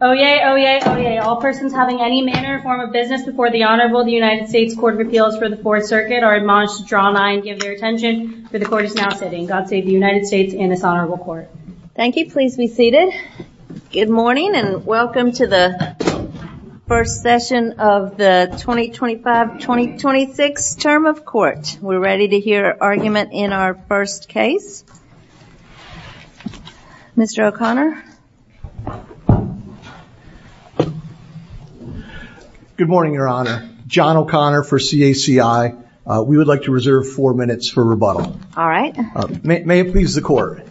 Oyez, oyez, oyez, all persons having any manner or form of business before the Honorable United States Court of Appeals for the Fourth Circuit are admonished to draw nigh and give their attention, for the Court is now sitting. God save the United States and this Honorable Court. Thank you, please be seated. Good morning and welcome to the first session of the 2025-2026 term of court. We're ready to hear argument in our first case. Mr. O'Connor. Good morning, Your Honor. John O'Connor for CACI. We would like to reserve four minutes for rebuttal. All right. May it please the Court.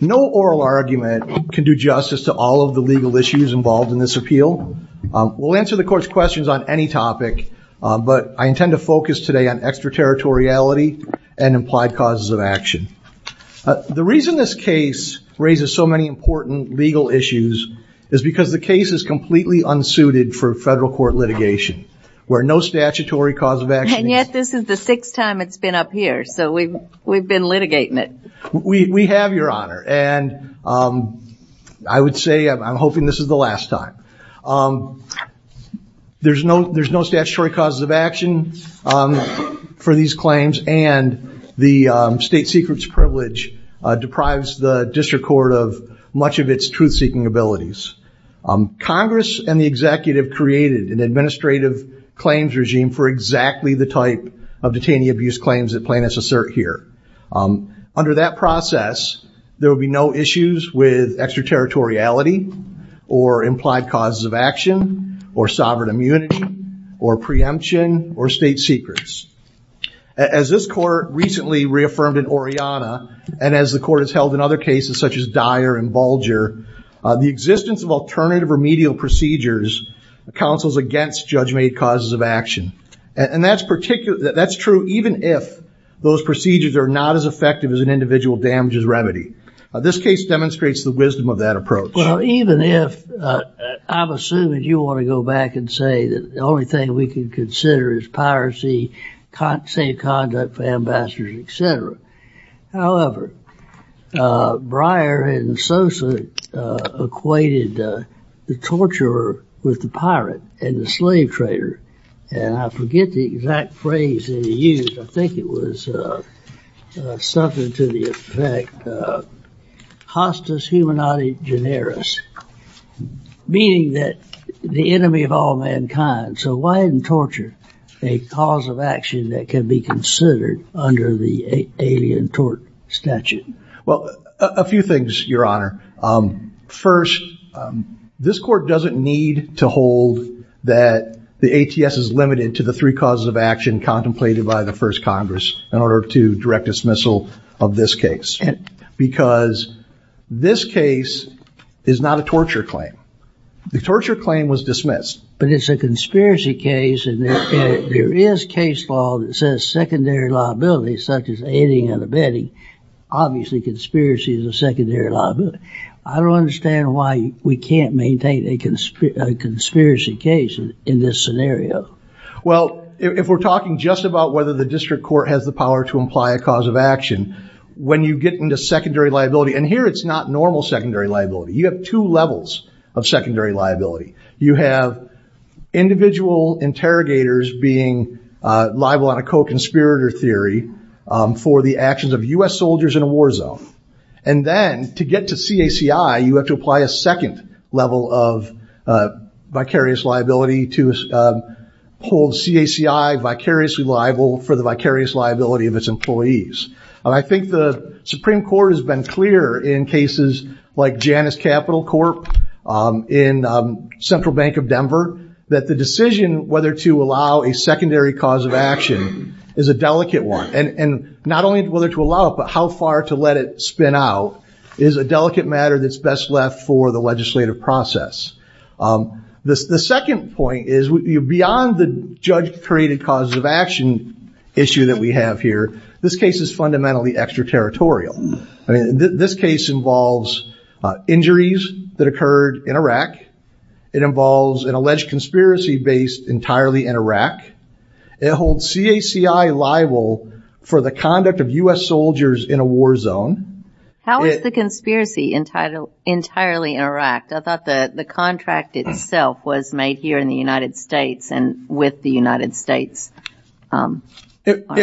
No oral argument can do justice to all of the legal issues involved in this appeal. We'll answer the Court's questions on any topic, but I intend to focus today on extraterritoriality and implied causes of action. The reason this case raises so many important legal issues is because the case is completely unsuited for federal court litigation, where no statutory cause of action. And yet this is the sixth time it's been up here, so we've been litigating it. We have, Your Honor, and I would say I'm hoping this is the last time. There's no statutory causes of action for these claims, and the state secret's privilege deprives the district court of much of its truth-seeking abilities. Congress and the executive created an administrative claims regime for exactly the type of detainee abuse claims that plaintiffs assert here. Under that process, there will be no issues with extraterritoriality or implied causes of action or sovereign immunity or preemption or state secrets. As this Court recently reaffirmed in Oriana, and as the Court has held in other cases such as Dyer and Bulger, the existence of alternative remedial procedures counsels against judge-made causes of action. And that's true even if those procedures are not as effective as an individual damages remedy. This case demonstrates the wisdom of that approach. Well, even if, I'm assuming you want to go back and say that the only thing we can consider is piracy, safe conduct for ambassadors, etc. However, Breyer and Sosa equated the torturer with the pirate and the slave trader. And I forget the exact phrase that he used. I think it was something to the effect, hostus humanae generis, meaning that the enemy of all mankind. So why didn't torture, a cause of action that can be considered under the alien tort statute? Well, a few things, Your Honor. First, this Court doesn't need to hold that the ATS is limited to the three causes of action contemplated by the First Congress in order to direct dismissal of this case. Because this case is not a torture claim. The torture claim was dismissed. But it's a conspiracy case, and there is case law that says secondary liability, such as aiding and abetting. Obviously, conspiracy is a secondary liability. I don't understand why we can't maintain a conspiracy case in this scenario. Well, if we're talking just about whether the district court has the power to imply a cause of action, when you get into secondary liability, and here it's not normal secondary liability. You have two levels of secondary liability. You have individual interrogators being liable on a co-conspirator theory for the actions of U.S. soldiers in a war zone. And then, to get to CACI, you have to apply a second level of vicarious liability to hold CACI vicariously liable for the vicarious liability of its employees. I think the Supreme Court has been clear in cases like Janus Capital Corp. in Central Bank of Denver, that the decision whether to allow a secondary cause of action is a delicate one. And not only whether to allow it, but how far to let it spin out is a delicate matter that's best left for the legislative process. The second point is, beyond the judge-created cause of action issue that we have here, this case is fundamentally extraterritorial. This case involves injuries that occurred in Iraq. It involves an alleged conspiracy based entirely in Iraq. It holds CACI liable for the conduct of U.S. soldiers in a war zone. How is the conspiracy entirely in Iraq? I thought the contract itself was made here in the United States and with the United States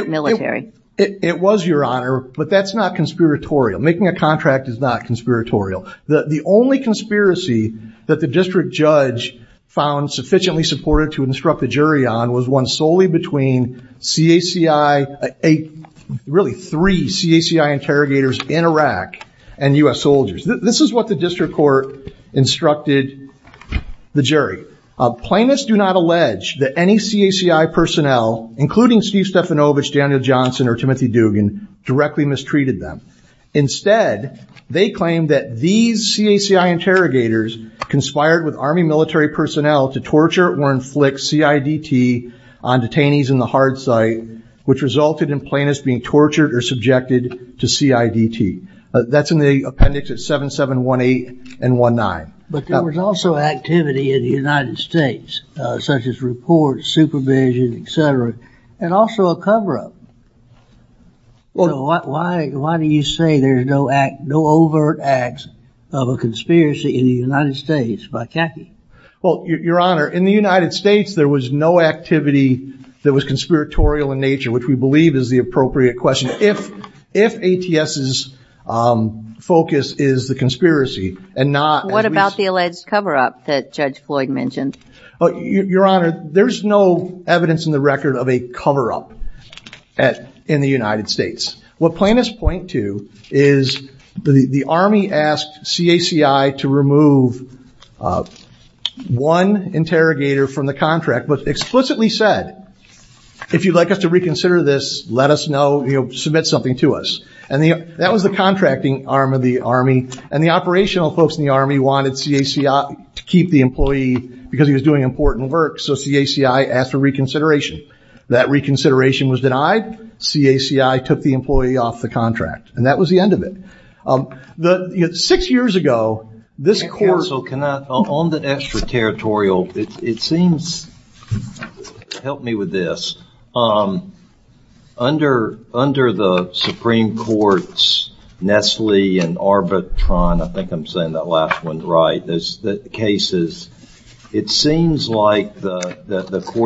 military. It was, Your Honor, but that's not conspiratorial. Making a contract is not conspiratorial. The only conspiracy that the district judge found sufficiently supportive to instruct the jury on was one solely between CACI, really three CACI interrogators in Iraq and U.S. soldiers. This is what the district court instructed the jury. Plaintiffs do not allege that any CACI personnel, including Steve Stefanovich, Daniel Johnson, or Timothy Dugan, directly mistreated them. Instead, they claim that these CACI interrogators conspired with Army military personnel to torture or inflict CIDT on detainees in the hard site, which resulted in plaintiffs being tortured or subjected to CIDT. That's in the appendix at 7718 and 1-9. But there was also activity in the United States, such as reports, supervision, etc., and also a cover-up. Why do you say there's no overt acts of a conspiracy in the United States by CACI? Well, Your Honor, in the United States, there was no activity that was conspiratorial in nature, which we believe is the appropriate question. If ATS's focus is the conspiracy and not... What about the alleged cover-up that Judge Floyd mentioned? Your Honor, there's no evidence in the record of a cover-up in the United States. What plaintiffs point to is the Army asked CACI to remove one interrogator from the contract, but explicitly said, if you'd like us to reconsider this, let us know, submit something to us. That was the contracting arm of the Army, and the operational folks in the Army wanted CACI to keep the employee because he was doing important work, so CACI asked for reconsideration. That reconsideration was denied. CACI took the employee off the contract, and that was the end of it. Your Honor, six years ago, this court... That last one's right. It seems like the court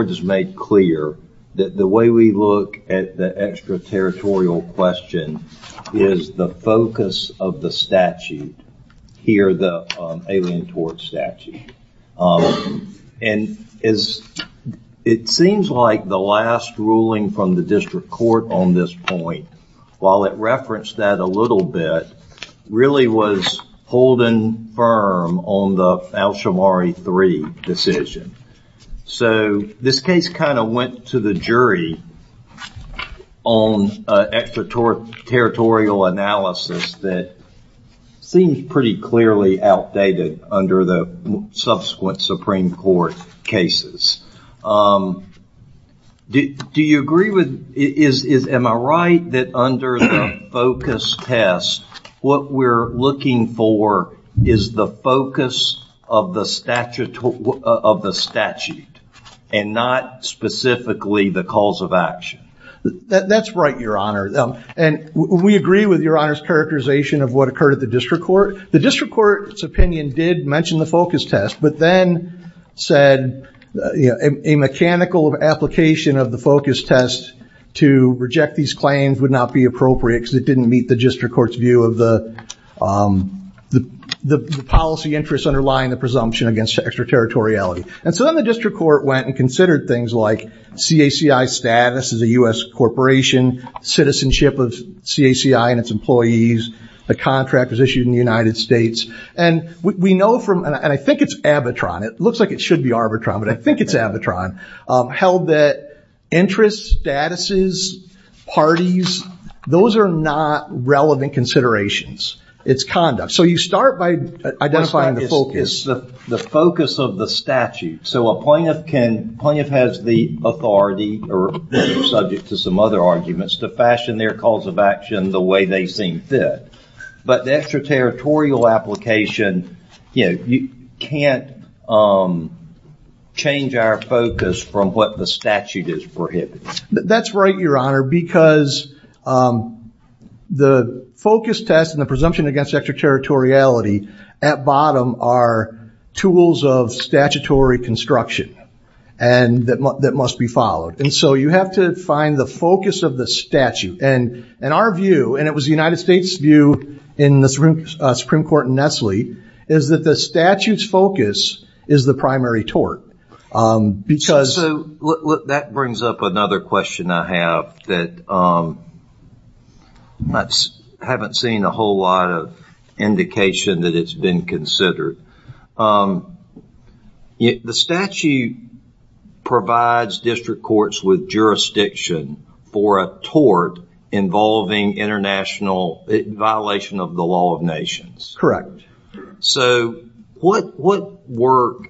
has made clear that the way we look at the extraterritorial question is the focus of the statute, here, the Alien Tort Statute. It seems like the last ruling from the district court on this point, while it referenced that a little bit, really was holding firm on the Al-Shamari III decision. So, this case kind of went to the jury on extraterritorial analysis that seems pretty clearly outdated under the subsequent Supreme Court cases. Do you agree with... Am I right that under the focus test, what we're looking for is the focus of the statute, and not specifically the cause of action? That's right, Your Honor, and we agree with Your Honor's characterization of what occurred at the district court. The district court's opinion did mention the focus test, but then said a mechanical application of the focus test to reject these claims would not be appropriate because it didn't meet the district court's view of the policy interests underlying the presumption against extraterritoriality. And so then the district court went and considered things like CACI status as a U.S. corporation, citizenship of CACI and its employees, a contract was issued in the United States, and we know from, and I think it's Abitron, it looks like it should be Arbitron, but I think it's Abitron, held that interests, statuses, parties, those are not relevant considerations. It's conduct. So you start by identifying the focus. The focus of the statute. So a plaintiff has the authority, or subject to some other arguments, to fashion their cause of action the way they see fit. But the extraterritorial application, you can't change our focus from what the statute is prohibiting. That's right, Your Honor, because the focus test and the presumption against extraterritoriality at bottom are tools of statutory construction that must be followed. And so you have to find the focus of the statute. And our view, and it was the United States' view in the Supreme Court in Nestle, is that the statute's focus is the primary tort. So that brings up another question I have that I haven't seen a whole lot of indication that it's been considered. The statute provides district courts with jurisdiction for a tort involving international violation of the law of nations. Correct. So what work,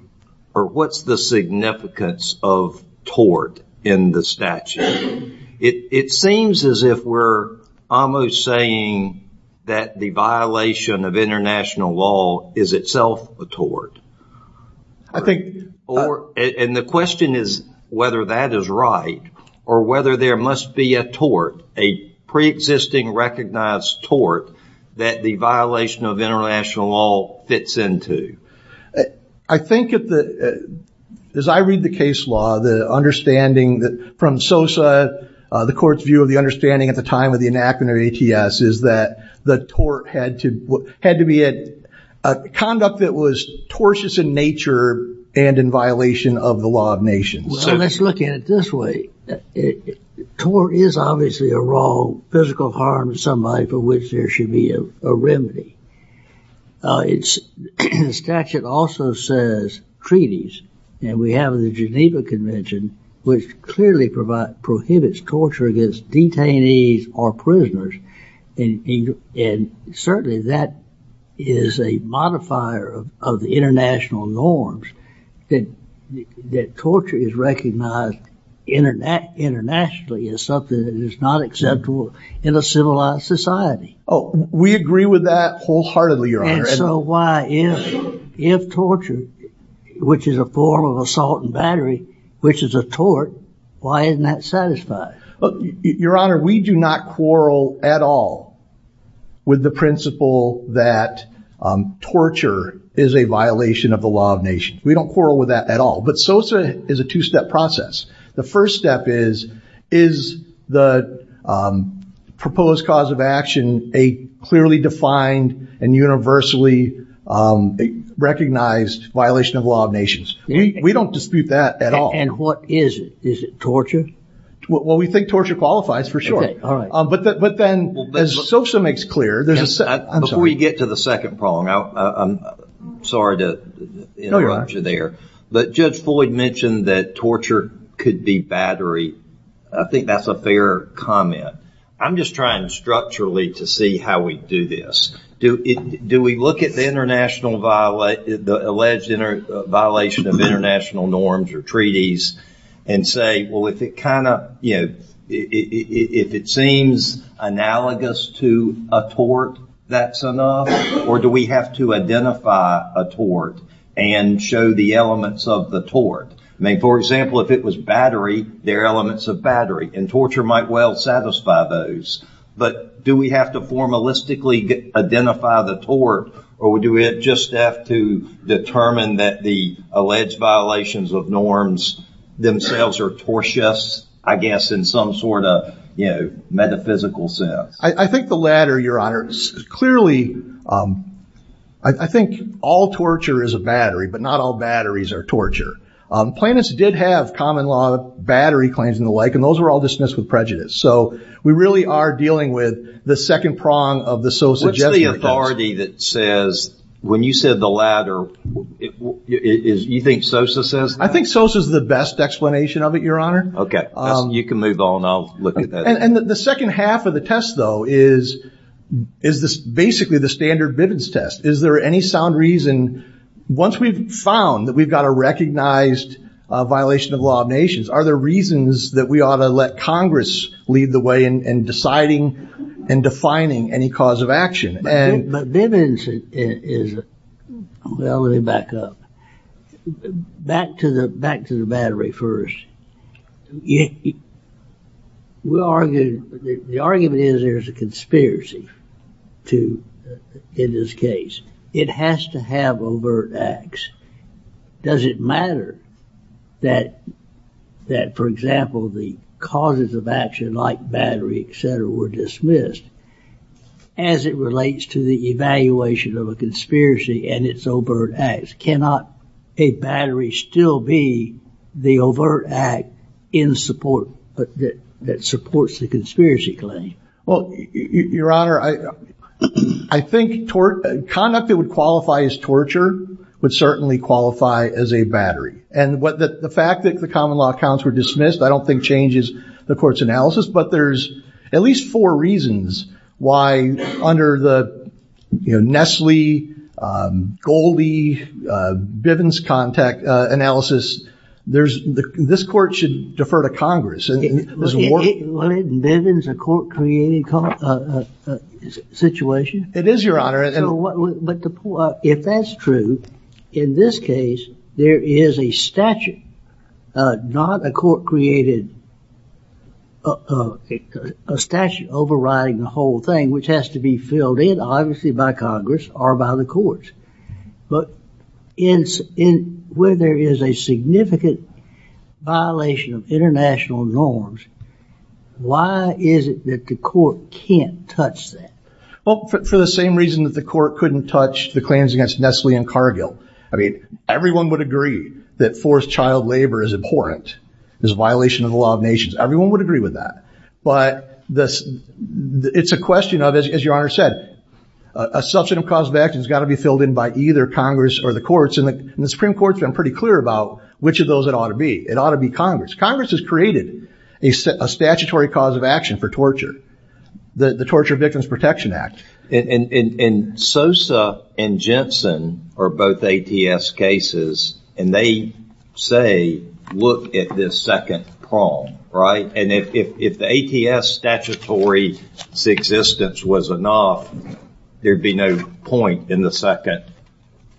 or what's the significance of tort in the statute? It seems as if we're almost saying that the violation of international law is itself a tort. And the question is whether that is right, or whether there must be a tort, a pre-existing recognized tort, that the violation of international law fits into. I think as I read the case law, the understanding from Sosa, the court's view of the understanding at the time of the enactment of ATS is that the tort had to be a conduct that was tortious in nature and in violation of the law of nations. Well, let's look at it this way. Tort is obviously a wrong, physical harm to somebody for which there should be a remedy. The statute also says treaties, and we have the Geneva Convention, which clearly prohibits torture against detainees or prisoners. And certainly that is a modifier of the international norms, that torture is recognized internationally as something that is not acceptable in a civilized society. Oh, we agree with that wholeheartedly, Your Honor. And so why, if torture, which is a form of assault and battery, which is a tort, why isn't that satisfied? Your Honor, we do not quarrel at all with the principle that torture is a violation of the law of nations. We don't quarrel with that at all. But Sosa is a two-step process. The first step is, is the proposed cause of action a clearly defined and universally recognized violation of the law of nations? We don't dispute that at all. And what is it? Is it torture? Well, we think torture qualifies, for sure. Okay, all right. But then, as Sosa makes clear, there's a... Before you get to the second problem, I'm sorry to interrupt you there, but Judge Floyd mentioned that torture could be battery. I think that's a fair comment. I'm just trying structurally to see how we do this. Do we look at the alleged violation of international norms or treaties and say, well, if it seems analogous to a tort, that's enough? Or do we have to identify a tort and show the elements of the tort? I mean, for example, if it was battery, there are elements of battery, and torture might well satisfy those. But do we have to formalistically identify the tort, or do we just have to determine that the alleged violations of norms themselves are tortious, I guess, in some sort of metaphysical sense? I think the latter, Your Honor. Clearly, I think all torture is a battery, but not all batteries are torture. Planets did have common law battery claims and the like, and those were all dismissed with prejudice. So we really are dealing with the second prong of the Sosa Jesuit test. What's the authority that says, when you said the latter, you think Sosa says that? I think Sosa's the best explanation of it, Your Honor. Okay, you can move on. I'll look at that. And the second half of the test, though, is basically the standard Bivens test. Is there any sound reason, once we've found that we've got a recognized violation of the law of nations, are there reasons that we ought to let Congress lead the way in deciding and defining any cause of action? But Bivens is, well, let me back up. Back to the battery first. The argument is there's a conspiracy in this case. It has to have overt acts. Does it matter that, for example, the causes of action like battery, et cetera, were dismissed? As it relates to the evaluation of a conspiracy and its overt acts, cannot a battery still be the overt act that supports the conspiracy claim? Well, Your Honor, I think conduct that would qualify as torture would certainly qualify as a battery. And the fact that the common law accounts were dismissed I don't think changes the court's analysis. But there's at least four reasons why, under the Nestle, Goldie, Bivens analysis, this court should defer to Congress. Well, isn't Bivens a court-created situation? It is, Your Honor. If that's true, in this case there is a statute, not a court-created statute overriding the whole thing, which has to be filled in, obviously, by Congress or by the courts. But where there is a significant violation of international norms, why is it that the court can't touch that? Well, for the same reason that the court couldn't touch the claims against Nestle and Cargill. I mean, everyone would agree that forced child labor is abhorrent, is a violation of the law of nations. Everyone would agree with that. But it's a question of, as Your Honor said, a substantive cause of action has got to be filled in by either Congress or the courts. And the Supreme Court's been pretty clear about which of those it ought to be. It ought to be Congress. Congress has created a statutory cause of action for torture, the Torture Victims Protection Act. And Sosa and Jensen are both ATS cases, and they say, look at this second prong, right? And if the ATS statutory existence was enough, there'd be no point in the second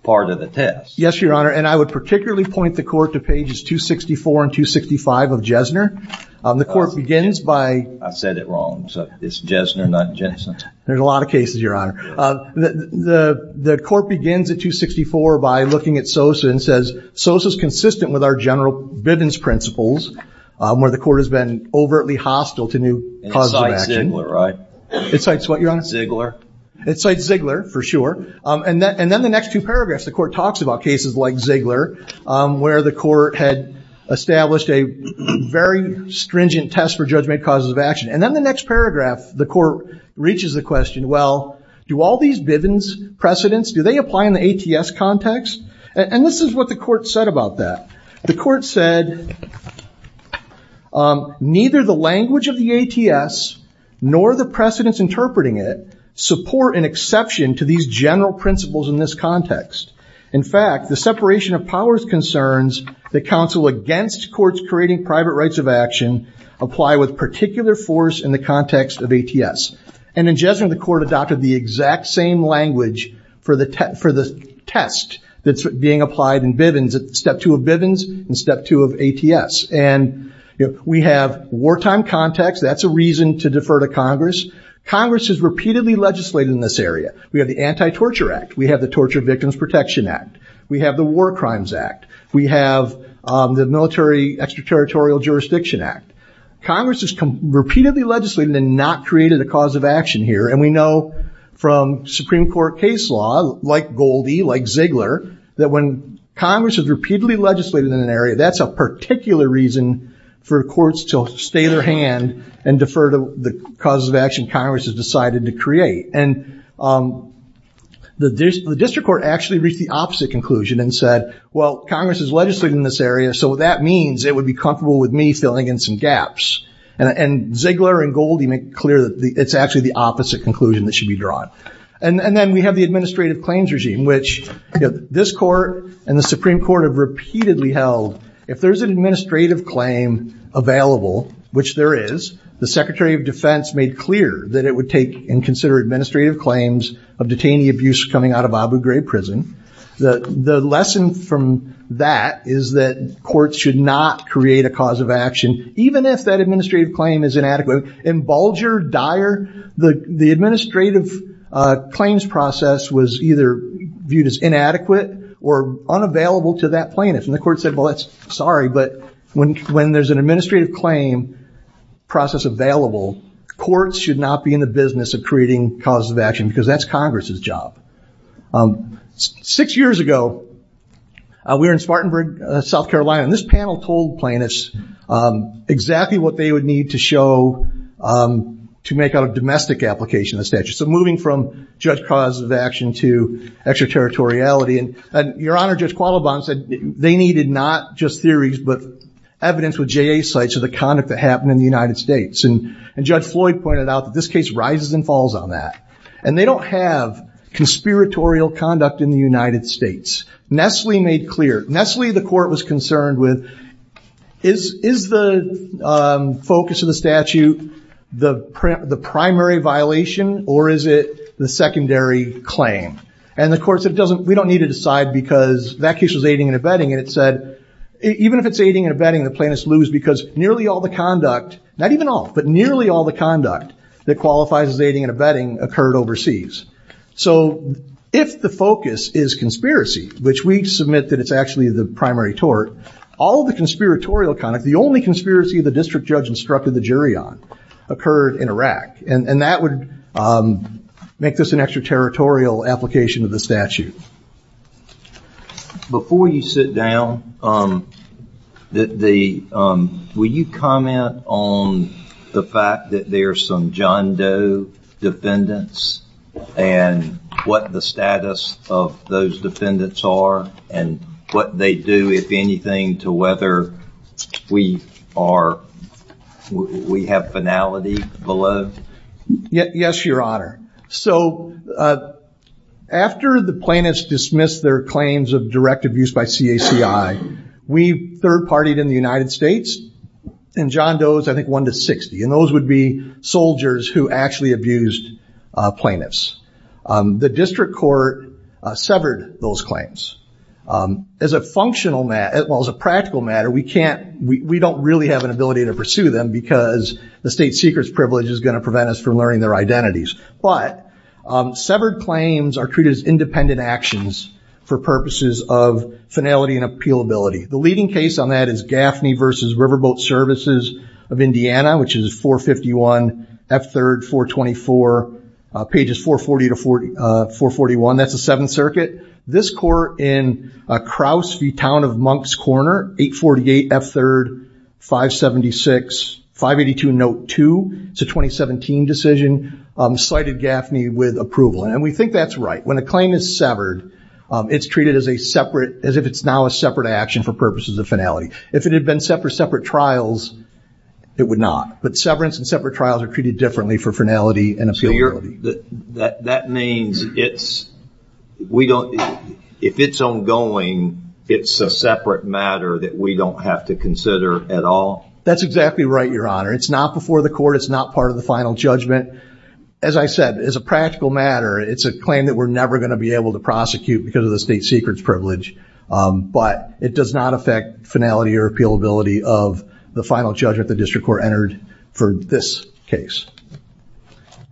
part of the test. Yes, Your Honor. And I would particularly point the court to pages 264 and 265 of Jesner. The court begins by – I said it wrong. So it's Jesner, not Jensen. There's a lot of cases, Your Honor. The court begins at 264 by looking at Sosa and says, Sosa is consistent with our general Bivens principles, where the court has been overtly hostile to new causes of action. It cites Ziegler, right? It cites what, Your Honor? Ziegler. It cites Ziegler, for sure. And then the next two paragraphs, the court talks about cases like Ziegler, where the court had established a very stringent test for judgment causes of action. And then the next paragraph, the court reaches the question, well, do all these Bivens precedents, do they apply in the ATS context? And this is what the court said about that. The court said, neither the language of the ATS nor the precedents interpreting it support an exception to these general principles in this context. In fact, the separation of powers concerns that counsel against courts creating private rights of action apply with particular force in the context of ATS. And in Jessamine, the court adopted the exact same language for the test that's being applied in Bivens, Step 2 of Bivens and Step 2 of ATS. And we have wartime context. That's a reason to defer to Congress. Congress has repeatedly legislated in this area. We have the Anti-Torture Act. We have the Torture Victims Protection Act. We have the War Crimes Act. We have the Military Extraterritorial Jurisdiction Act. Congress has repeatedly legislated and not created a cause of action here. And we know from Supreme Court case law, like Goldie, like Ziegler, that when Congress has repeatedly legislated in an area, that's a particular reason for courts to stay their hand and defer to the cause of action Congress has decided to create. And the district court actually reached the opposite conclusion and said, well, Congress has legislated in this area, so that means it would be comfortable with me filling in some gaps. And Ziegler and Goldie make clear that it's actually the opposite conclusion that should be drawn. And then we have the Administrative Claims Regime, which this court and the Supreme Court have repeatedly held, if there's an administrative claim available, which there is, the Secretary of Defense made clear that it would take and consider administrative claims of detainee abuse coming out of Abu Ghraib prison. The lesson from that is that courts should not create a cause of action, even if that administrative claim is inadequate. In Bulger, Dyer, the administrative claims process was either viewed as inadequate or unavailable to that plaintiff. And the court said, well, that's sorry, but when there's an administrative claim process available, courts should not be in the business of creating cause of action because that's Congress's job. Six years ago, we were in Spartanburg, South Carolina, and this panel told plaintiffs exactly what they would need to show to make out a domestic application of the statute. So moving from judge cause of action to extraterritoriality, and Your Honor, Judge Qualiban said they needed not just theories, but evidence with JA sites of the conduct that happened in the United States. And Judge Floyd pointed out that this case rises and falls on that. And they don't have conspiratorial conduct in the United States. Nestle made clear. Nestle, the court was concerned with, is the focus of the statute the primary violation, or is it the secondary claim? And the court said, we don't need to decide because that case was aiding and abetting. And it said, even if it's aiding and abetting, the plaintiffs lose because nearly all the conduct, not even all, but nearly all the conduct that qualifies as aiding and abetting occurred overseas. So if the focus is conspiracy, which we submit that it's actually the primary tort, all the conspiratorial conduct, the only conspiracy the district judge instructed the jury on, occurred in Iraq. And that would make this an extraterritorial application of the statute. Before you sit down, will you comment on the fact that there are some John Doe defendants and what the status of those defendants are and what they do, if anything, to whether we have finality below? Yes, Your Honor. So after the plaintiffs dismissed their claims of direct abuse by CACI, we third-partied in the United States, and John Doe is, I think, 1 to 60. And those would be soldiers who actually abused plaintiffs. The district court severed those claims. As a practical matter, we don't really have an ability to pursue them because the state secret's privilege is going to prevent us from learning their identities. But severed claims are treated as independent actions for purposes of finality and appealability. The leading case on that is Gaffney v. Riverboat Services of Indiana, which is 451 F. 3rd 424, pages 440 to 441. That's the Seventh Circuit. This court in Crouse v. Town of Monks Corner, 848 F. 3rd 576, 582 Note 2. It's a 2017 decision. Cited Gaffney with approval. And we think that's right. When a claim is severed, it's treated as a separate, as if it's now a separate action for purposes of finality. If it had been set for separate trials, it would not. But severance and separate trials are treated differently for finality and appealability. That means if it's ongoing, it's a separate matter that we don't have to consider at all? That's exactly right, Your Honor. It's not before the court. It's not part of the final judgment. As I said, it's a practical matter. It's a claim that we're never going to be able to prosecute because of the state secret's privilege. But it does not affect finality or appealability of the final judgment the district court entered for this case.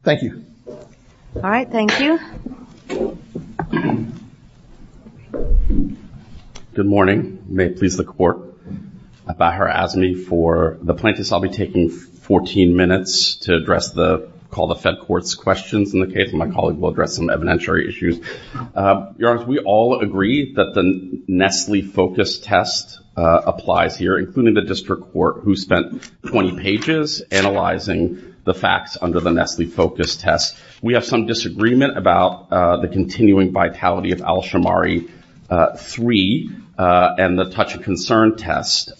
Thank you. All right. Thank you. Good morning. May it please the court. Bahar Azmi for the plaintiffs. I'll be taking 14 minutes to address the call the fed court's questions. In the case of my colleague, we'll address some evidentiary issues. Your Honor, we all agree that the Nestle focus test applies here, including the district court who spent 20 pages analyzing the facts under the Nestle focus test. We have some disagreement about the continuing vitality of Alshamari 3 and the touch of concern test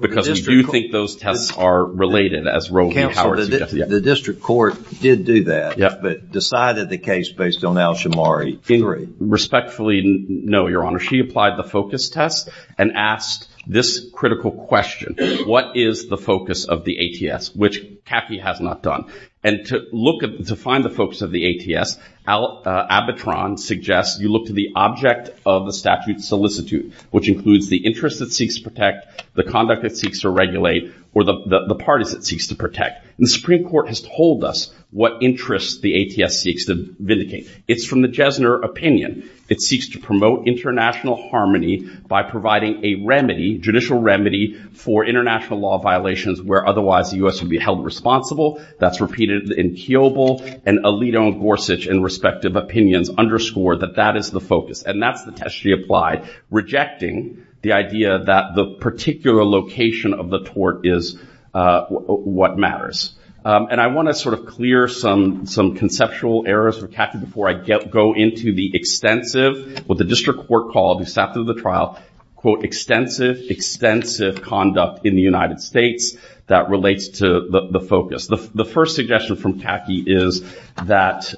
because we do think those tests are related. The district court did do that but decided the case based on Alshamari 3. Respectfully, no, Your Honor. She applied the focus test and asked this critical question. What is the focus of the ATS, which Caffey has not done? And to find the focus of the ATS, Abitron suggests you look to the object of the statute solicitude, which includes the interest it seeks to protect, the conduct it seeks to regulate, or the parties it seeks to protect. And the Supreme Court has told us what interests the ATS seeks to vindicate. It's from the Jesner opinion. It seeks to promote international harmony by providing a remedy, judicial remedy, for international law violations where otherwise the U.S. would be held responsible. That's repeated in Kiobel and Alito and Gorsuch in respective opinions underscore that that is the focus. And that's the test she applied, rejecting the idea that the particular location of the tort is what matters. And I want to sort of clear some conceptual errors for Caffey before I go into the extensive, what the district court called, after the trial, quote, extensive, extensive conduct in the United States that relates to the focus. The first suggestion from Caffey is that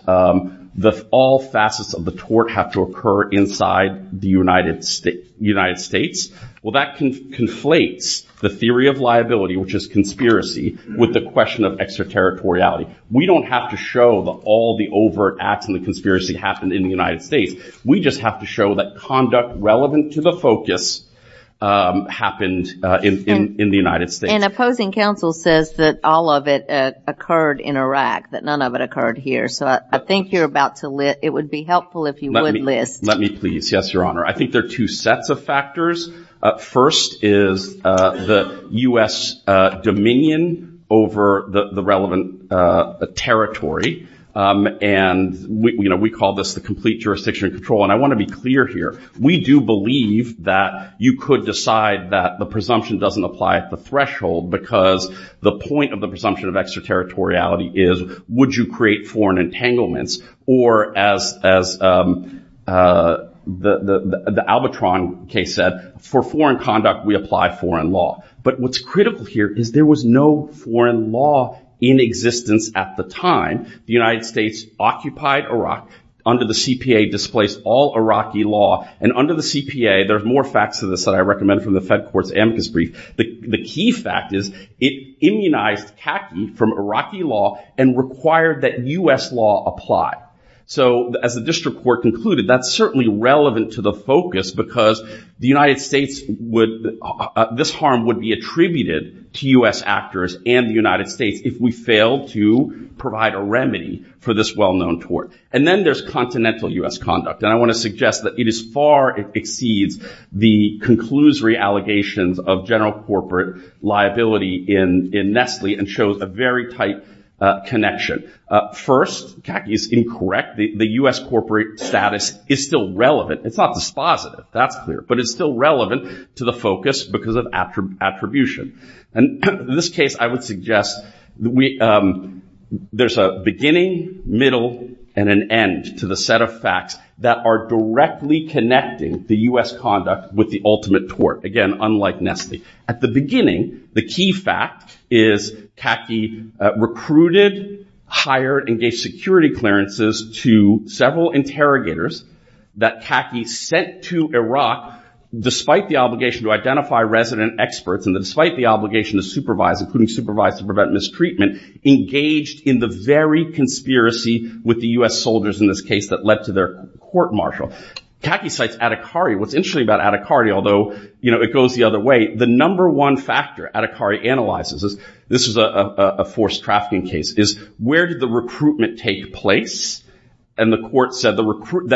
all facets of the tort have to occur inside the United States. Well, that conflates the theory of liability, which is conspiracy, with the question of extraterritoriality. We don't have to show that all the overt acts and the conspiracy happened in the United States. We just have to show that conduct relevant to the focus happened in the United States. And opposing counsel says that all of it occurred in Iraq, that none of it occurred here. So I think you're about to list. It would be helpful if you would list. Let me please. Yes, Your Honor. I think there are two sets of factors. First is the U.S. dominion over the relevant territory. And we call this the complete jurisdiction control. And I want to be clear here. We do believe that you could decide that the presumption doesn't apply at the threshold because the point of the presumption of extraterritoriality is would you create foreign entanglements, or as the Albatron case said, for foreign conduct we apply foreign law. But what's critical here is there was no foreign law in existence at the time. The United States occupied Iraq under the CPA, displaced all Iraqi law. And under the CPA, there's more facts to this that I recommend from the Fed Court's amicus brief. The key fact is it immunized khaki from Iraqi law and required that U.S. law apply. So as the district court concluded, that's certainly relevant to the focus because this harm would be attributed to U.S. actors and the United States if we failed to provide a remedy for this well-known tort. And then there's continental U.S. conduct. And I want to suggest that it is far exceeds the conclusory allegations of general corporate liability in Nestle and shows a very tight connection. First, khaki is incorrect. The U.S. corporate status is still relevant. It's not dispositive, that's clear. But it's still relevant to the focus because of attribution. And in this case, I would suggest there's a beginning, middle, and an end to the set of facts that are directly connecting the U.S. conduct with the ultimate tort, again, unlike Nestle. At the beginning, the key fact is khaki recruited, hired, and gave security clearances to several interrogators that khaki sent to Iraq despite the obligation to identify resident experts and despite the obligation to supervise, including supervise to prevent mistreatment, engaged in the very conspiracy with the U.S. soldiers in this case that led to their court-martial. Khaki cites Adhikari. What's interesting about Adhikari, although it goes the other way, the number one factor Adhikari analyzes, this is a forced trafficking case, is where did the recruitment take place that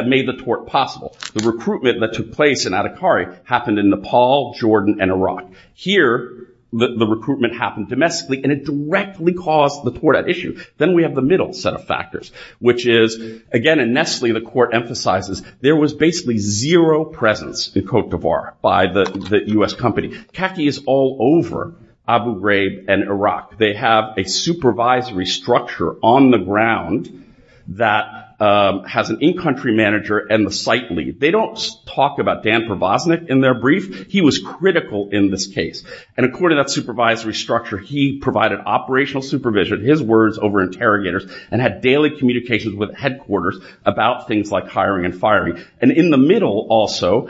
made the tort possible? The recruitment that took place in Adhikari happened in Nepal, Jordan, and Iraq. Here, the recruitment happened domestically, and it directly caused the tort at issue. Then we have the middle set of factors, which is, again, in Nestle, the court emphasizes there was basically zero presence in Cote d'Ivoire by the U.S. company. Khaki is all over Abu Ghraib and Iraq. They have a supervisory structure on the ground that has an in-country manager and the site lead. They don't talk about Dan Provosnick in their brief. He was critical in this case, and according to that supervisory structure, he provided operational supervision, his words over interrogators, and had daily communications with headquarters about things like hiring and firing. In the middle, also,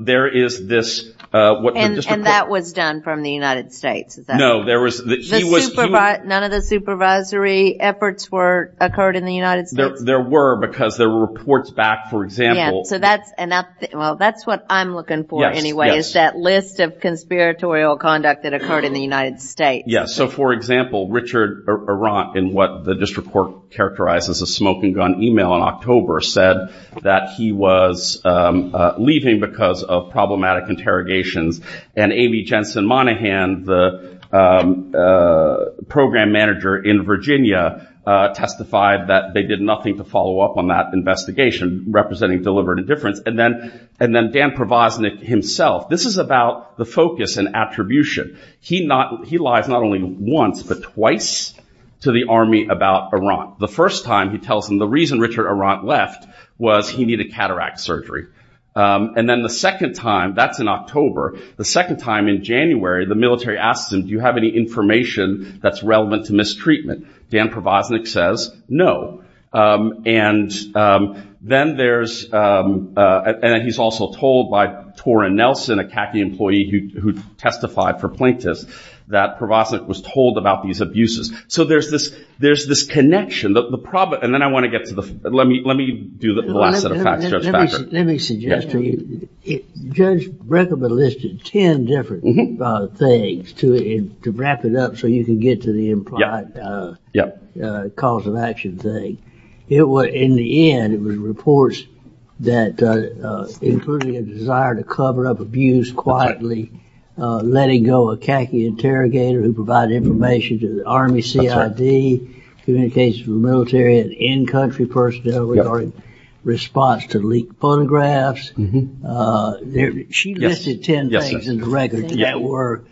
there is this... And that was done from the United States? No, there was... None of the supervisory efforts occurred in the United States? There were, because there were reports back, for example... So that's what I'm looking for, anyway, is that list of conspiratorial conduct that occurred in the United States. Yes, so for example, Richard Arant, in what the district court characterized as a smoking gun email in October, said that he was leaving because of problematic interrogations, and Amy Jensen Monaghan, the program manager in Virginia, testified that they did nothing to follow up on that investigation, representing deliberate indifference. And then Dan Provosnick himself. This is about the focus and attribution. He lies not only once, but twice, to the Army about Arant. The first time, he tells them the reason Richard Arant left was he needed cataract surgery. And then the second time, that's in October, the second time in January, the military asks him, do you have any information that's relevant to mistreatment? Dan Provosnick says, no. And then there's... And he's also told by Torin Nelson, a khaki employee who testified for plaintiffs, that Provosnick was told about these abuses. So there's this connection. And then I want to get to the... Let me do the last set of facts, Judge Fackler. Let me suggest to you, Judge Brekker listed 10 different things to wrap it up so you can get to the implied cause of action thing. In the end, it was reports that included a desire to cover up abuse quietly, letting go a khaki interrogator who provided information to the Army CID, communications from military and in-country personnel regarding response to leaked photographs. She listed 10 things in the record that were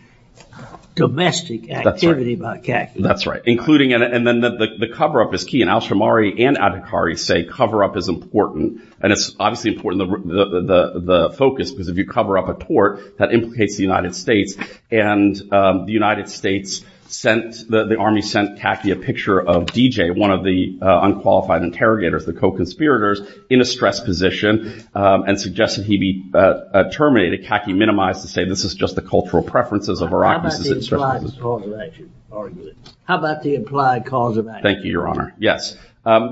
domestic activity by khaki. That's right. Including... And then the cover-up is key. And Alshamari and Adhikari say cover-up is important. And it's obviously important, the focus, because if you cover up a tort, that implicates the United States. And the United States sent... The Army sent khaki a picture of DJ, one of the unqualified interrogators, the co-conspirators, in a stressed position and suggested he be terminated. Khaki minimized to say this is just the cultural preferences of Iraqis. How about the implied cause of action? Thank you, Your Honor. Yes.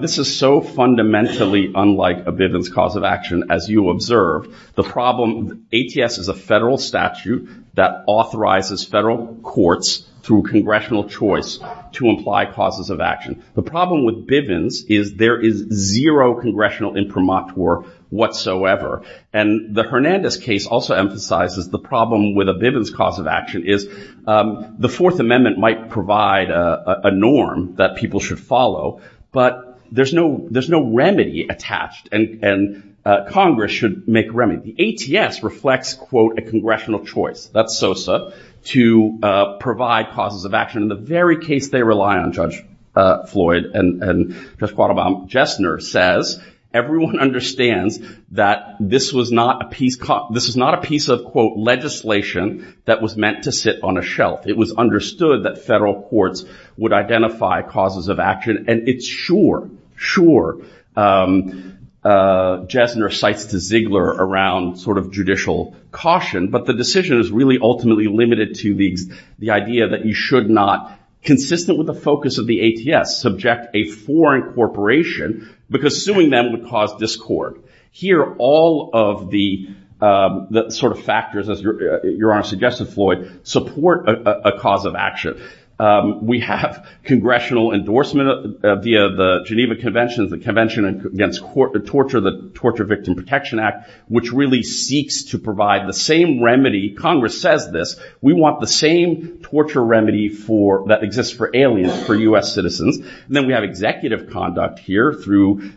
This is so fundamentally unlike a Bivens cause of action, as you observe. The problem, ATS is a federal statute that authorizes federal courts through congressional choice to imply causes of action. The problem with Bivens is there is zero congressional imprimatur whatsoever. And the Hernandez case also emphasizes the problem with a Bivens cause of action is the Fourth Amendment might provide a norm that people should follow, but there's no remedy attached, and Congress should make remedy. The ATS reflects, quote, a congressional choice, that's SOSA, to provide causes of action. In the very case they rely on, Judge Floyd and Judge Quattlebaum, Jessner says everyone understands that this was not a piece of, quote, legislation that was meant to sit on a shelf. It was understood that federal courts would identify causes of action, and it's sure, sure, Jessner cites to Ziegler around sort of judicial caution, but the decision is really ultimately limited to the idea that you should not, consistent with the focus of the ATS, subject a foreign corporation, because suing them would cause discord. Here all of the sort of factors, as Your Honor suggested, Floyd, support a cause of action. We have congressional endorsement via the Geneva Convention, the Convention Against Torture, the Torture Victim Protection Act, which really seeks to provide the same remedy, Congress says this, we want the same torture remedy that exists for aliens, for U.S. citizens. Then we have executive conduct here through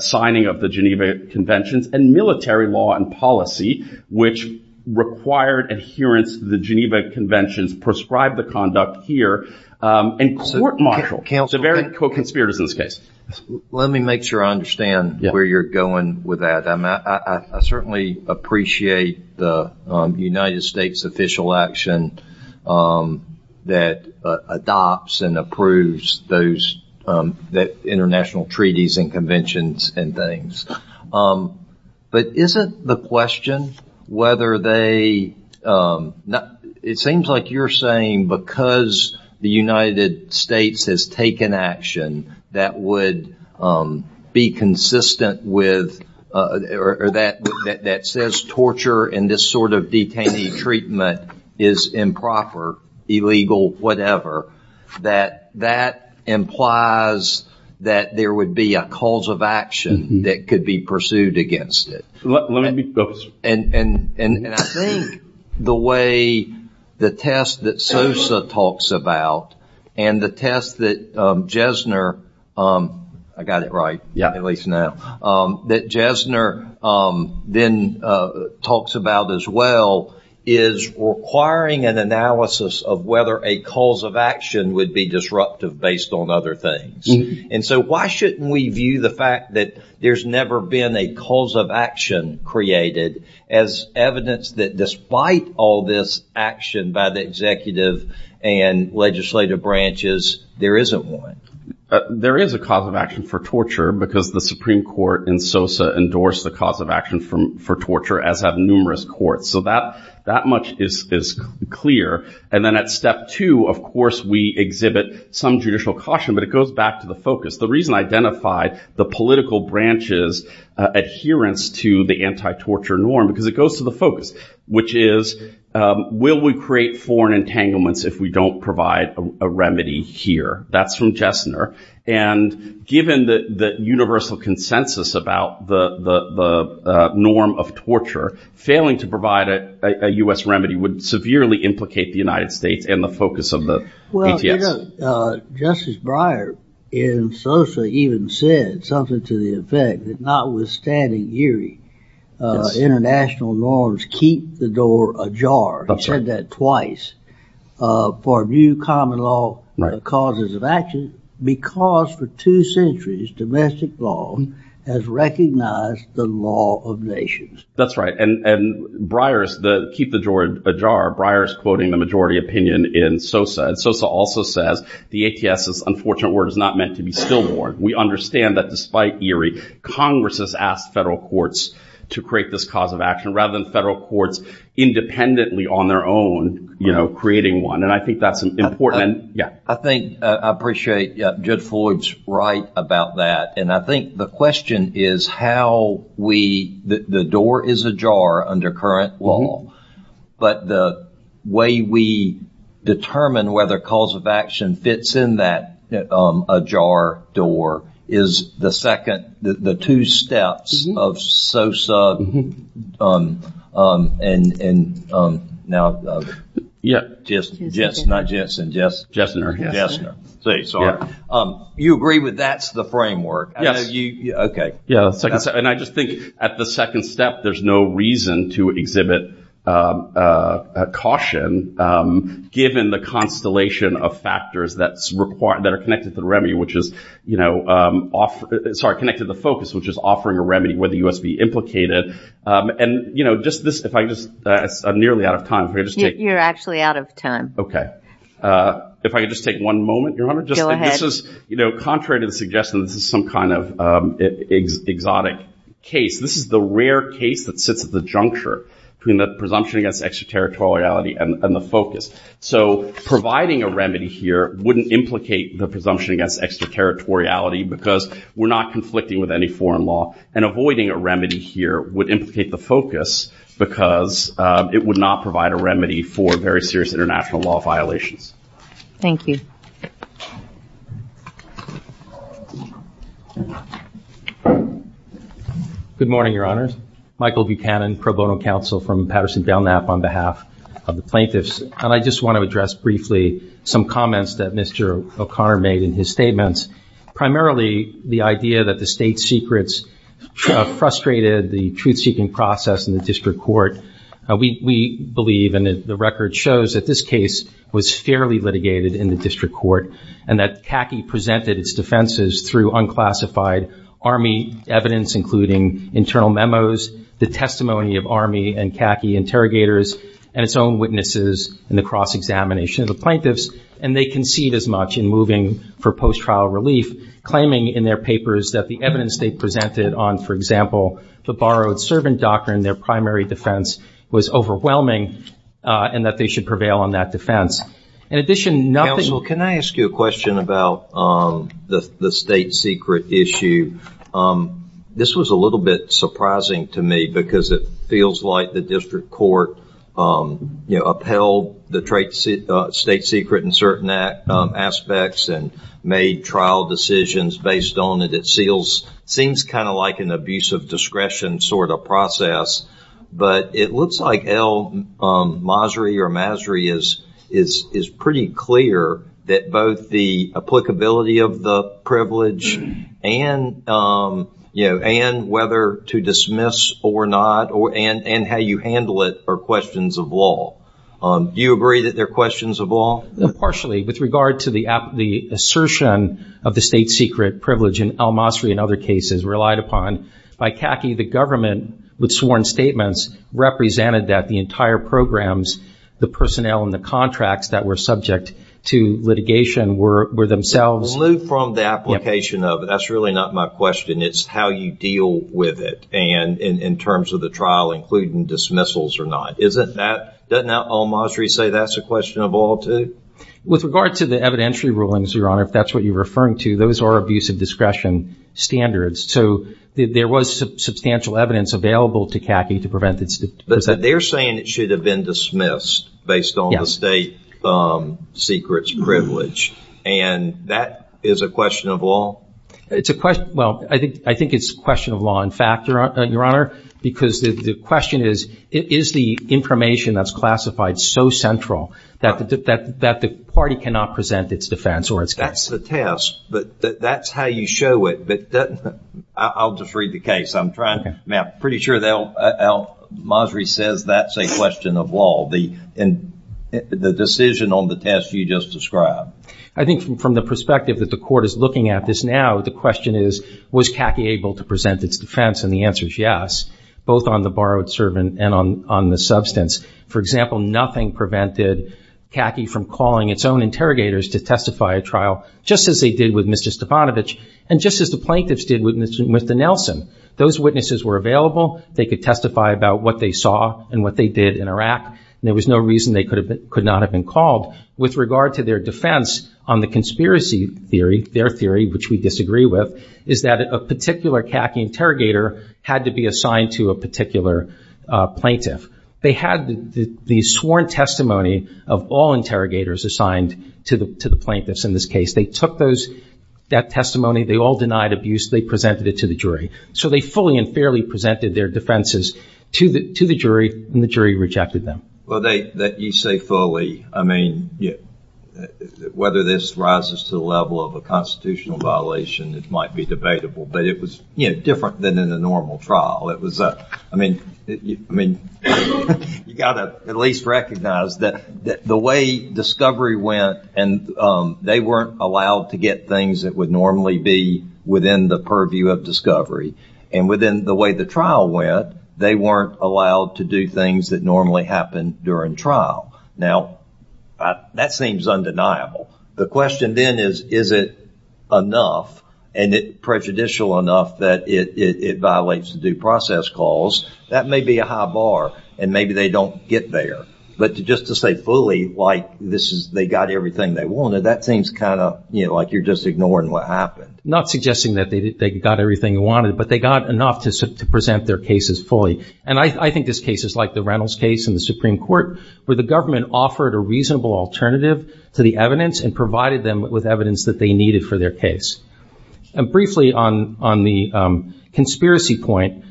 signing of the Geneva Conventions and military law and policy, which required adherence to the Geneva Conventions, prescribed the conduct here, and court martial, so very co-conspirators in this case. Let me make sure I understand where you're going with that. I certainly appreciate the United States official action that adopts and approves those international treaties and conventions and things. But isn't the question whether they, it seems like you're saying because the United States has taken action that would be consistent with, or that says torture and this sort of detainee treatment is improper, illegal, whatever, that that implies that there would be a cause of action that could be pursued against it. Let me be focused. And I think the way the test that Sosa talks about and the test that Jesner, I got it right, at least now, that Jesner then talks about as well, is requiring an analysis of whether a cause of action would be disruptive based on other things. And so why shouldn't we view the fact that there's never been a cause of action created as evidence that despite all this action by the executive and legislative branches, there isn't one? There is a cause of action for torture because the Supreme Court in Sosa endorses the cause of action for torture, as have numerous courts. So that much is clear. And then at step two, of course, we exhibit some judicial caution, but it goes back to the focus. The reason I identified the political branch's adherence to the anti-torture norm because it goes to the focus, which is will we create foreign entanglements if we don't provide a remedy here? That's from Jesner. And given the universal consensus about the norm of torture, failing to provide a U.S. remedy would severely implicate the United States and the focus of the PTS. Well, you know, Justice Breyer in Sosa even said something to the effect that notwithstanding Erie, international norms keep the door ajar. He said that twice. For a new common law, the causes of action, because for two centuries, domestic law has recognized the law of nations. That's right. And Breyer's keep the door ajar, Breyer's quoting the majority opinion in Sosa. And Sosa also says the ATS's unfortunate word is not meant to be stillborn. We understand that despite Erie, Congress has asked federal courts to create this cause of action rather than federal courts independently on their own, you know, creating one. And I think that's important. I think, I appreciate Judd Floyd's right about that. And I think the question is how we, the door is ajar under current law, but the way we determine whether cause of action fits in that ajar door is the second, the two steps of Sosa and now Jessner. You agree with that's the framework? Okay. And I just think at the second step, there's no reason to exhibit caution given the constellation of factors that are connected to the remedy, which is, you know, sorry, connected to the focus, which is offering a remedy where the U.S. be implicated. And, you know, just this, if I just, I'm nearly out of time. You're actually out of time. Okay. If I could just take one moment, Your Honor. Go ahead. This is, you know, contrary to the suggestion, this is some kind of exotic case. This is the rare case that sits at the juncture between the presumption against extraterritoriality and the focus. So providing a remedy here wouldn't implicate the presumption against extraterritoriality because we're not conflicting with any foreign law. And avoiding a remedy here would implicate the focus because it would not provide a remedy for very serious international law violations. Thank you. Good morning, Your Honors. Michael Buchanan, pro bono counsel from Patterson-Belknap on behalf of the U.S. Department of Justice. And I just want to address briefly some comments that Mr. O'Connor made in his statements. Primarily, the idea that the state secrets frustrated the truth-seeking process in the district court. We believe, and the record shows, that this case was fairly litigated in the district court and that Kaki presented its defenses through unclassified Army evidence, including internal memos, the testimony of Army and Kaki interrogators, and its own witnesses in the cross-examination of the plaintiffs. And they concede as much in moving for post-trial relief, claiming in their papers that the evidence they presented on, for example, the borrowed servant doctrine, their primary defense, was overwhelming and that they should prevail on that defense. In addition, nothing- Counsel, can I ask you a question about the state secret issue? This was a little bit surprising to me because it feels like the district court upheld the state secret in certain aspects and made trial decisions based on it. It seems kind of like an abuse of discretion sort of process. But it looks like El Masri or Masri is pretty clear that both the testimony and whether to dismiss or not, and how you handle it, are questions of law. Do you agree that they're questions of law? Partially. With regard to the assertion of the state secret privilege in El Masri and other cases relied upon, by Kaki, the government, with sworn statements, represented that the entire programs, the personnel and the contracts that were subject to litigation were themselves- That's really not my question. It's how you deal with it in terms of the trial, including dismissals or not. Doesn't El Masri say that's a question of law, too? With regard to the evidentiary rulings, Your Honor, if that's what you're referring to, those are abuse of discretion standards. So there was substantial evidence available to Kaki to prevent this. But they're saying it should have been dismissed based on the state secrets privilege. That is a question of law? I think it's a question of law, in fact, Your Honor, because the question is, is the information that's classified so central that the party cannot present its defense or its case? That's the test. That's how you show it. I'll just read the case. I'm pretty sure El Masri says that's a question of law, the decision on the test you just described. I think from the perspective that the court is looking at this now, the question is, was Kaki able to present its defense? And the answer is yes, both on the borrowed servant and on the substance. For example, nothing prevented Kaki from calling its own interrogators to testify at trial, just as they did with Mr. Stavanovich and just as the plaintiffs did with Mr. Nelson. Those witnesses were available. They could testify about what they saw and what they did in Iraq. And there was no reason they could not have been called. With regard to their defense on the conspiracy theory, their theory, which we disagree with, is that a particular Kaki interrogator had to be assigned to a particular plaintiff. They had the sworn testimony of all interrogators assigned to the plaintiffs in this case. They took that testimony. They all denied abuse. They presented it to the jury. So they fully and fairly presented their defenses to the jury, and the jury rejected them. Well, that you say fully, I mean, whether this rises to the level of a constitutional violation, it might be debatable. But it was different than in a normal trial. I mean, you've got to at least recognize that the way discovery went, and they weren't allowed to get things that would normally be within the purview of discovery. And within the way the trial went, they weren't allowed to do things that would normally happen during trial. Now, that seems undeniable. The question then is, is it enough and prejudicial enough that it violates the due process clause? That may be a high bar, and maybe they don't get there. But just to say fully, like they got everything they wanted, that seems kind of like you're just ignoring what happened. Not suggesting that they got everything they wanted, but they got enough to present their cases fully. And I think this case is like the Reynolds case in the Supreme Court, where the government offered a reasonable alternative to the evidence and provided them with evidence that they needed for their case. And briefly, on the conspiracy point,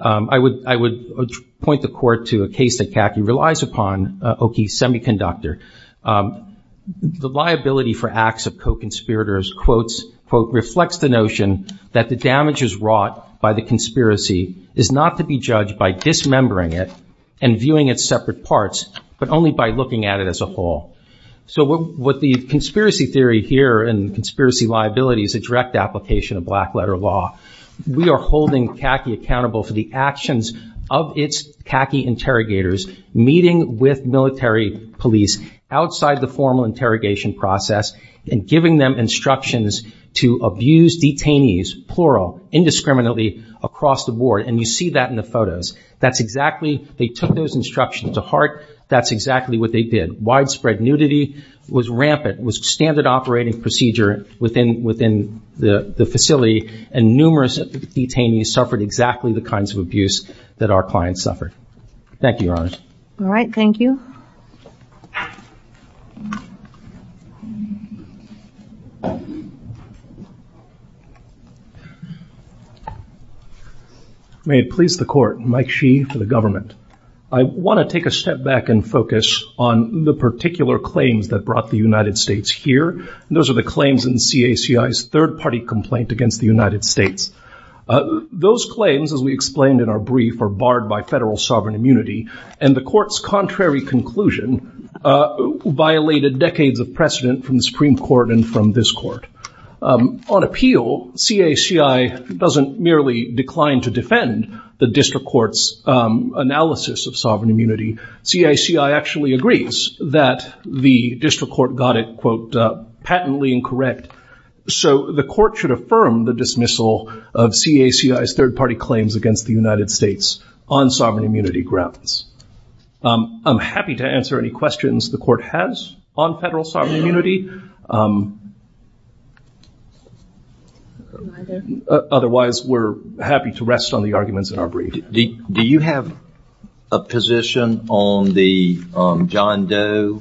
I would point the court to a case that Kaki relies upon, Oki's Semiconductor. The liability for acts of co-conspirators, quotes, quote, reflects the notion that the damage is wrought by the conspiracy, is not to be judged by dismembering it and viewing its separate parts, but only by looking at it as a whole. So what the conspiracy theory here and conspiracy liability is a direct application of black letter law. We are holding Kaki accountable for the actions of its Kaki interrogators meeting with military police outside the formal interrogation process and giving them instructions to abuse detainees, plural, indiscriminately across the board. And you see that in the photos. That's exactly, they took those instructions to heart. That's exactly what they did. Widespread nudity was rampant. It was standard operating procedure within the facility, and numerous detainees suffered exactly the kinds of abuse that our clients suffered. Thank you, Your Honors. All right, thank you. May it please the Court. Mike Shee for the government. I want to take a step back and focus on the particular claims that brought the United States here, and those are the claims in CACI's third-party complaint against the United States. Those claims, as we explained in our brief, are barred by federal sovereign immunity, and the Court's contrary conclusion violated decades of precedent from the Supreme Court and from this Court. On appeal, CACI doesn't merely decline to defend the district court's analysis of sovereign immunity. CACI actually agrees that the district court got it, quote, patently incorrect. So the Court should affirm the dismissal of CACI's third-party claims against the United States on sovereign immunity grounds. I'm happy to answer any questions the Court has on federal sovereign immunity. Otherwise, we're happy to rest on the arguments in our brief. Do you have a position on the John Doe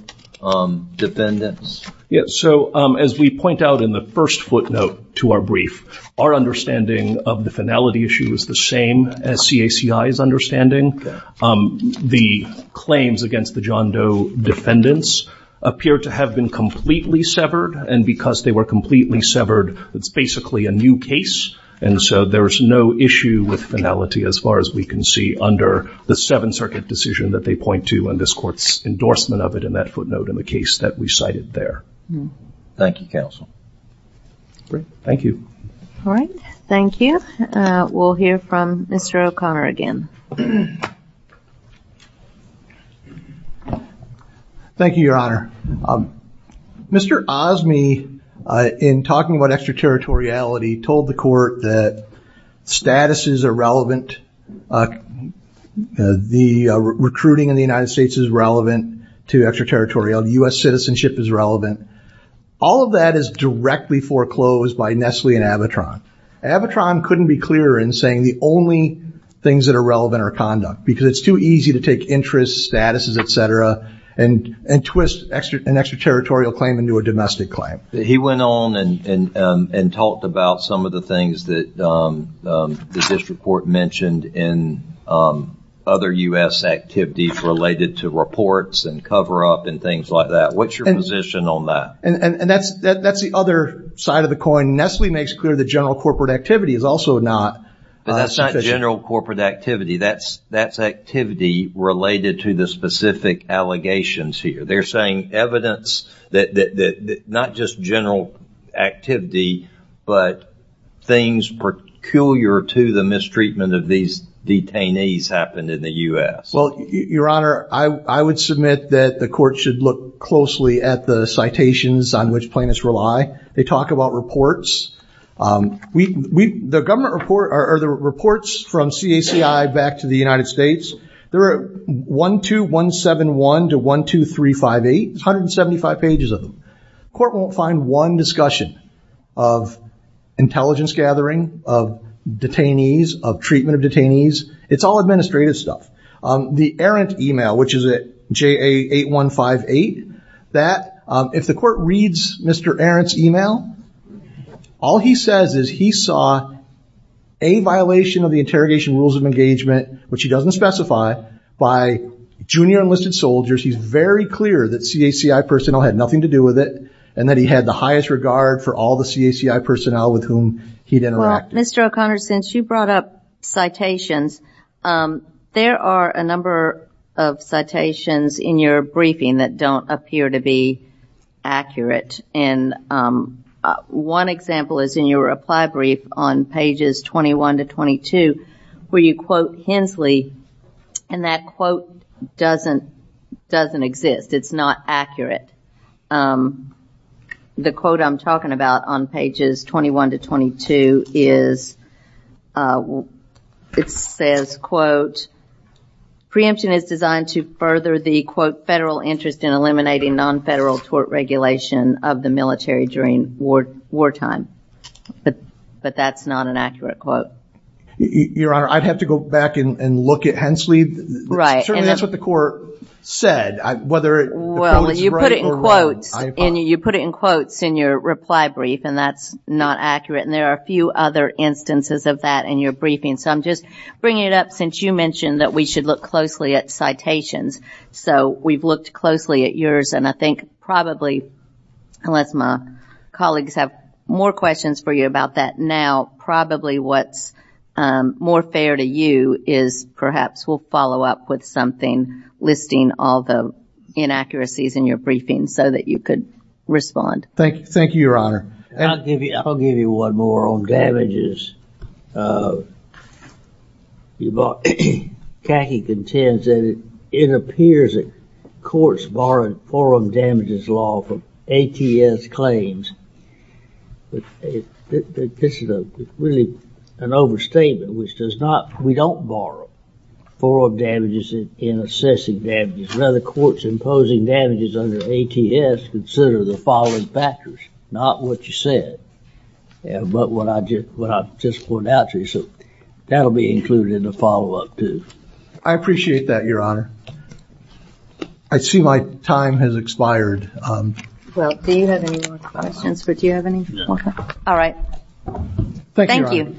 defendants? Yes. So as we point out in the first footnote to our brief, our understanding of the finality issue is the same as CACI's understanding. The claims against the John Doe defendants appear to have been completely severed, and because they were completely severed, it's basically a new case. And so there's no issue with finality as far as we can see under the Seventh Circuit decision that they point to and this Court's endorsement of it in that footnote in the case that we cited there. Thank you, Counsel. Great. Thank you. All right. Thank you. We'll hear from Mr. O'Connor again. Thank you, Your Honor. Mr. Osme, in talking about extraterritoriality, told the Court that status is irrelevant, the recruiting in the United States is relevant to extraterritoriality, U.S. citizenship is relevant. All of that is directly foreclosed by Nestle and Avatron. Avatron couldn't be clearer in saying the only things that are relevant are conduct, because it's too easy to take interests, statuses, et cetera, and twist an extraterritorial claim into a domestic claim. He went on and talked about some of the things that the District Court mentioned in other U.S. activities related to reports and cover-up and things like that. What's your position on that? That's the other side of the coin. Nestle makes clear that general corporate activity is also not sufficient. That's not general corporate activity. That's activity related to the specific allegations here. They're saying evidence that not just general activity, but things peculiar to the mistreatment of these detainees happened in the U.S. Well, Your Honor, I would submit that the Court should look closely at the citations on which plaintiffs rely. They talk about reports. The government report or the reports from CACI back to the United States, there are 12171 to 12358. There's 175 pages of them. The Court won't find one discussion of intelligence gathering, of detainees, of treatment of detainees. It's all administrative stuff. The Arendt email, which is at JA8158, that if the Court reads Mr. Arendt's email, all he says is he saw a violation of the interrogation rules of engagement, which he doesn't specify, by junior enlisted soldiers. He's very clear that CACI personnel had nothing to do with it and that he had the highest regard for all the CACI personnel with whom he'd interacted. Well, Mr. O'Connor, since you brought up citations, there are a number of citations in your briefing that don't appear to be accurate. And one example is in your reply brief on pages 21 to 22 where you quote Hensley, and that quote doesn't exist. It's not accurate. The quote I'm talking about on pages 21 to 22 is it says, quote, preemption is designed to further the, quote, federal interest in eliminating non-federal tort regulation of the military during wartime, but that's not an accurate quote. Your Honor, I'd have to go back and look at Hensley. Certainly that's what the Court said, whether the quote is right or wrong. Well, you put it in quotes in your reply brief, and that's not accurate. And there are a few other instances of that in your briefing. So I'm just bringing it up since you mentioned that we should look closely at citations. So we've looked closely at yours, and I think probably, unless my colleagues have more questions for you about that now, probably what's more fair to you is perhaps we'll follow up with something listing all the inaccuracies in your briefing so that you could respond. Thank you, Your Honor. I'll give you one more on damages. Kaki contends that it appears that courts borrowed forum damages law from ATS claims. This is really an overstatement. We don't borrow forum damages in assessing damages. None of the courts imposing damages under ATS consider the following factors, not what you said, but what I just pointed out to you. So that will be included in the follow-up, too. I appreciate that, Your Honor. I see my time has expired. Do you have any more questions? All right. Thank you.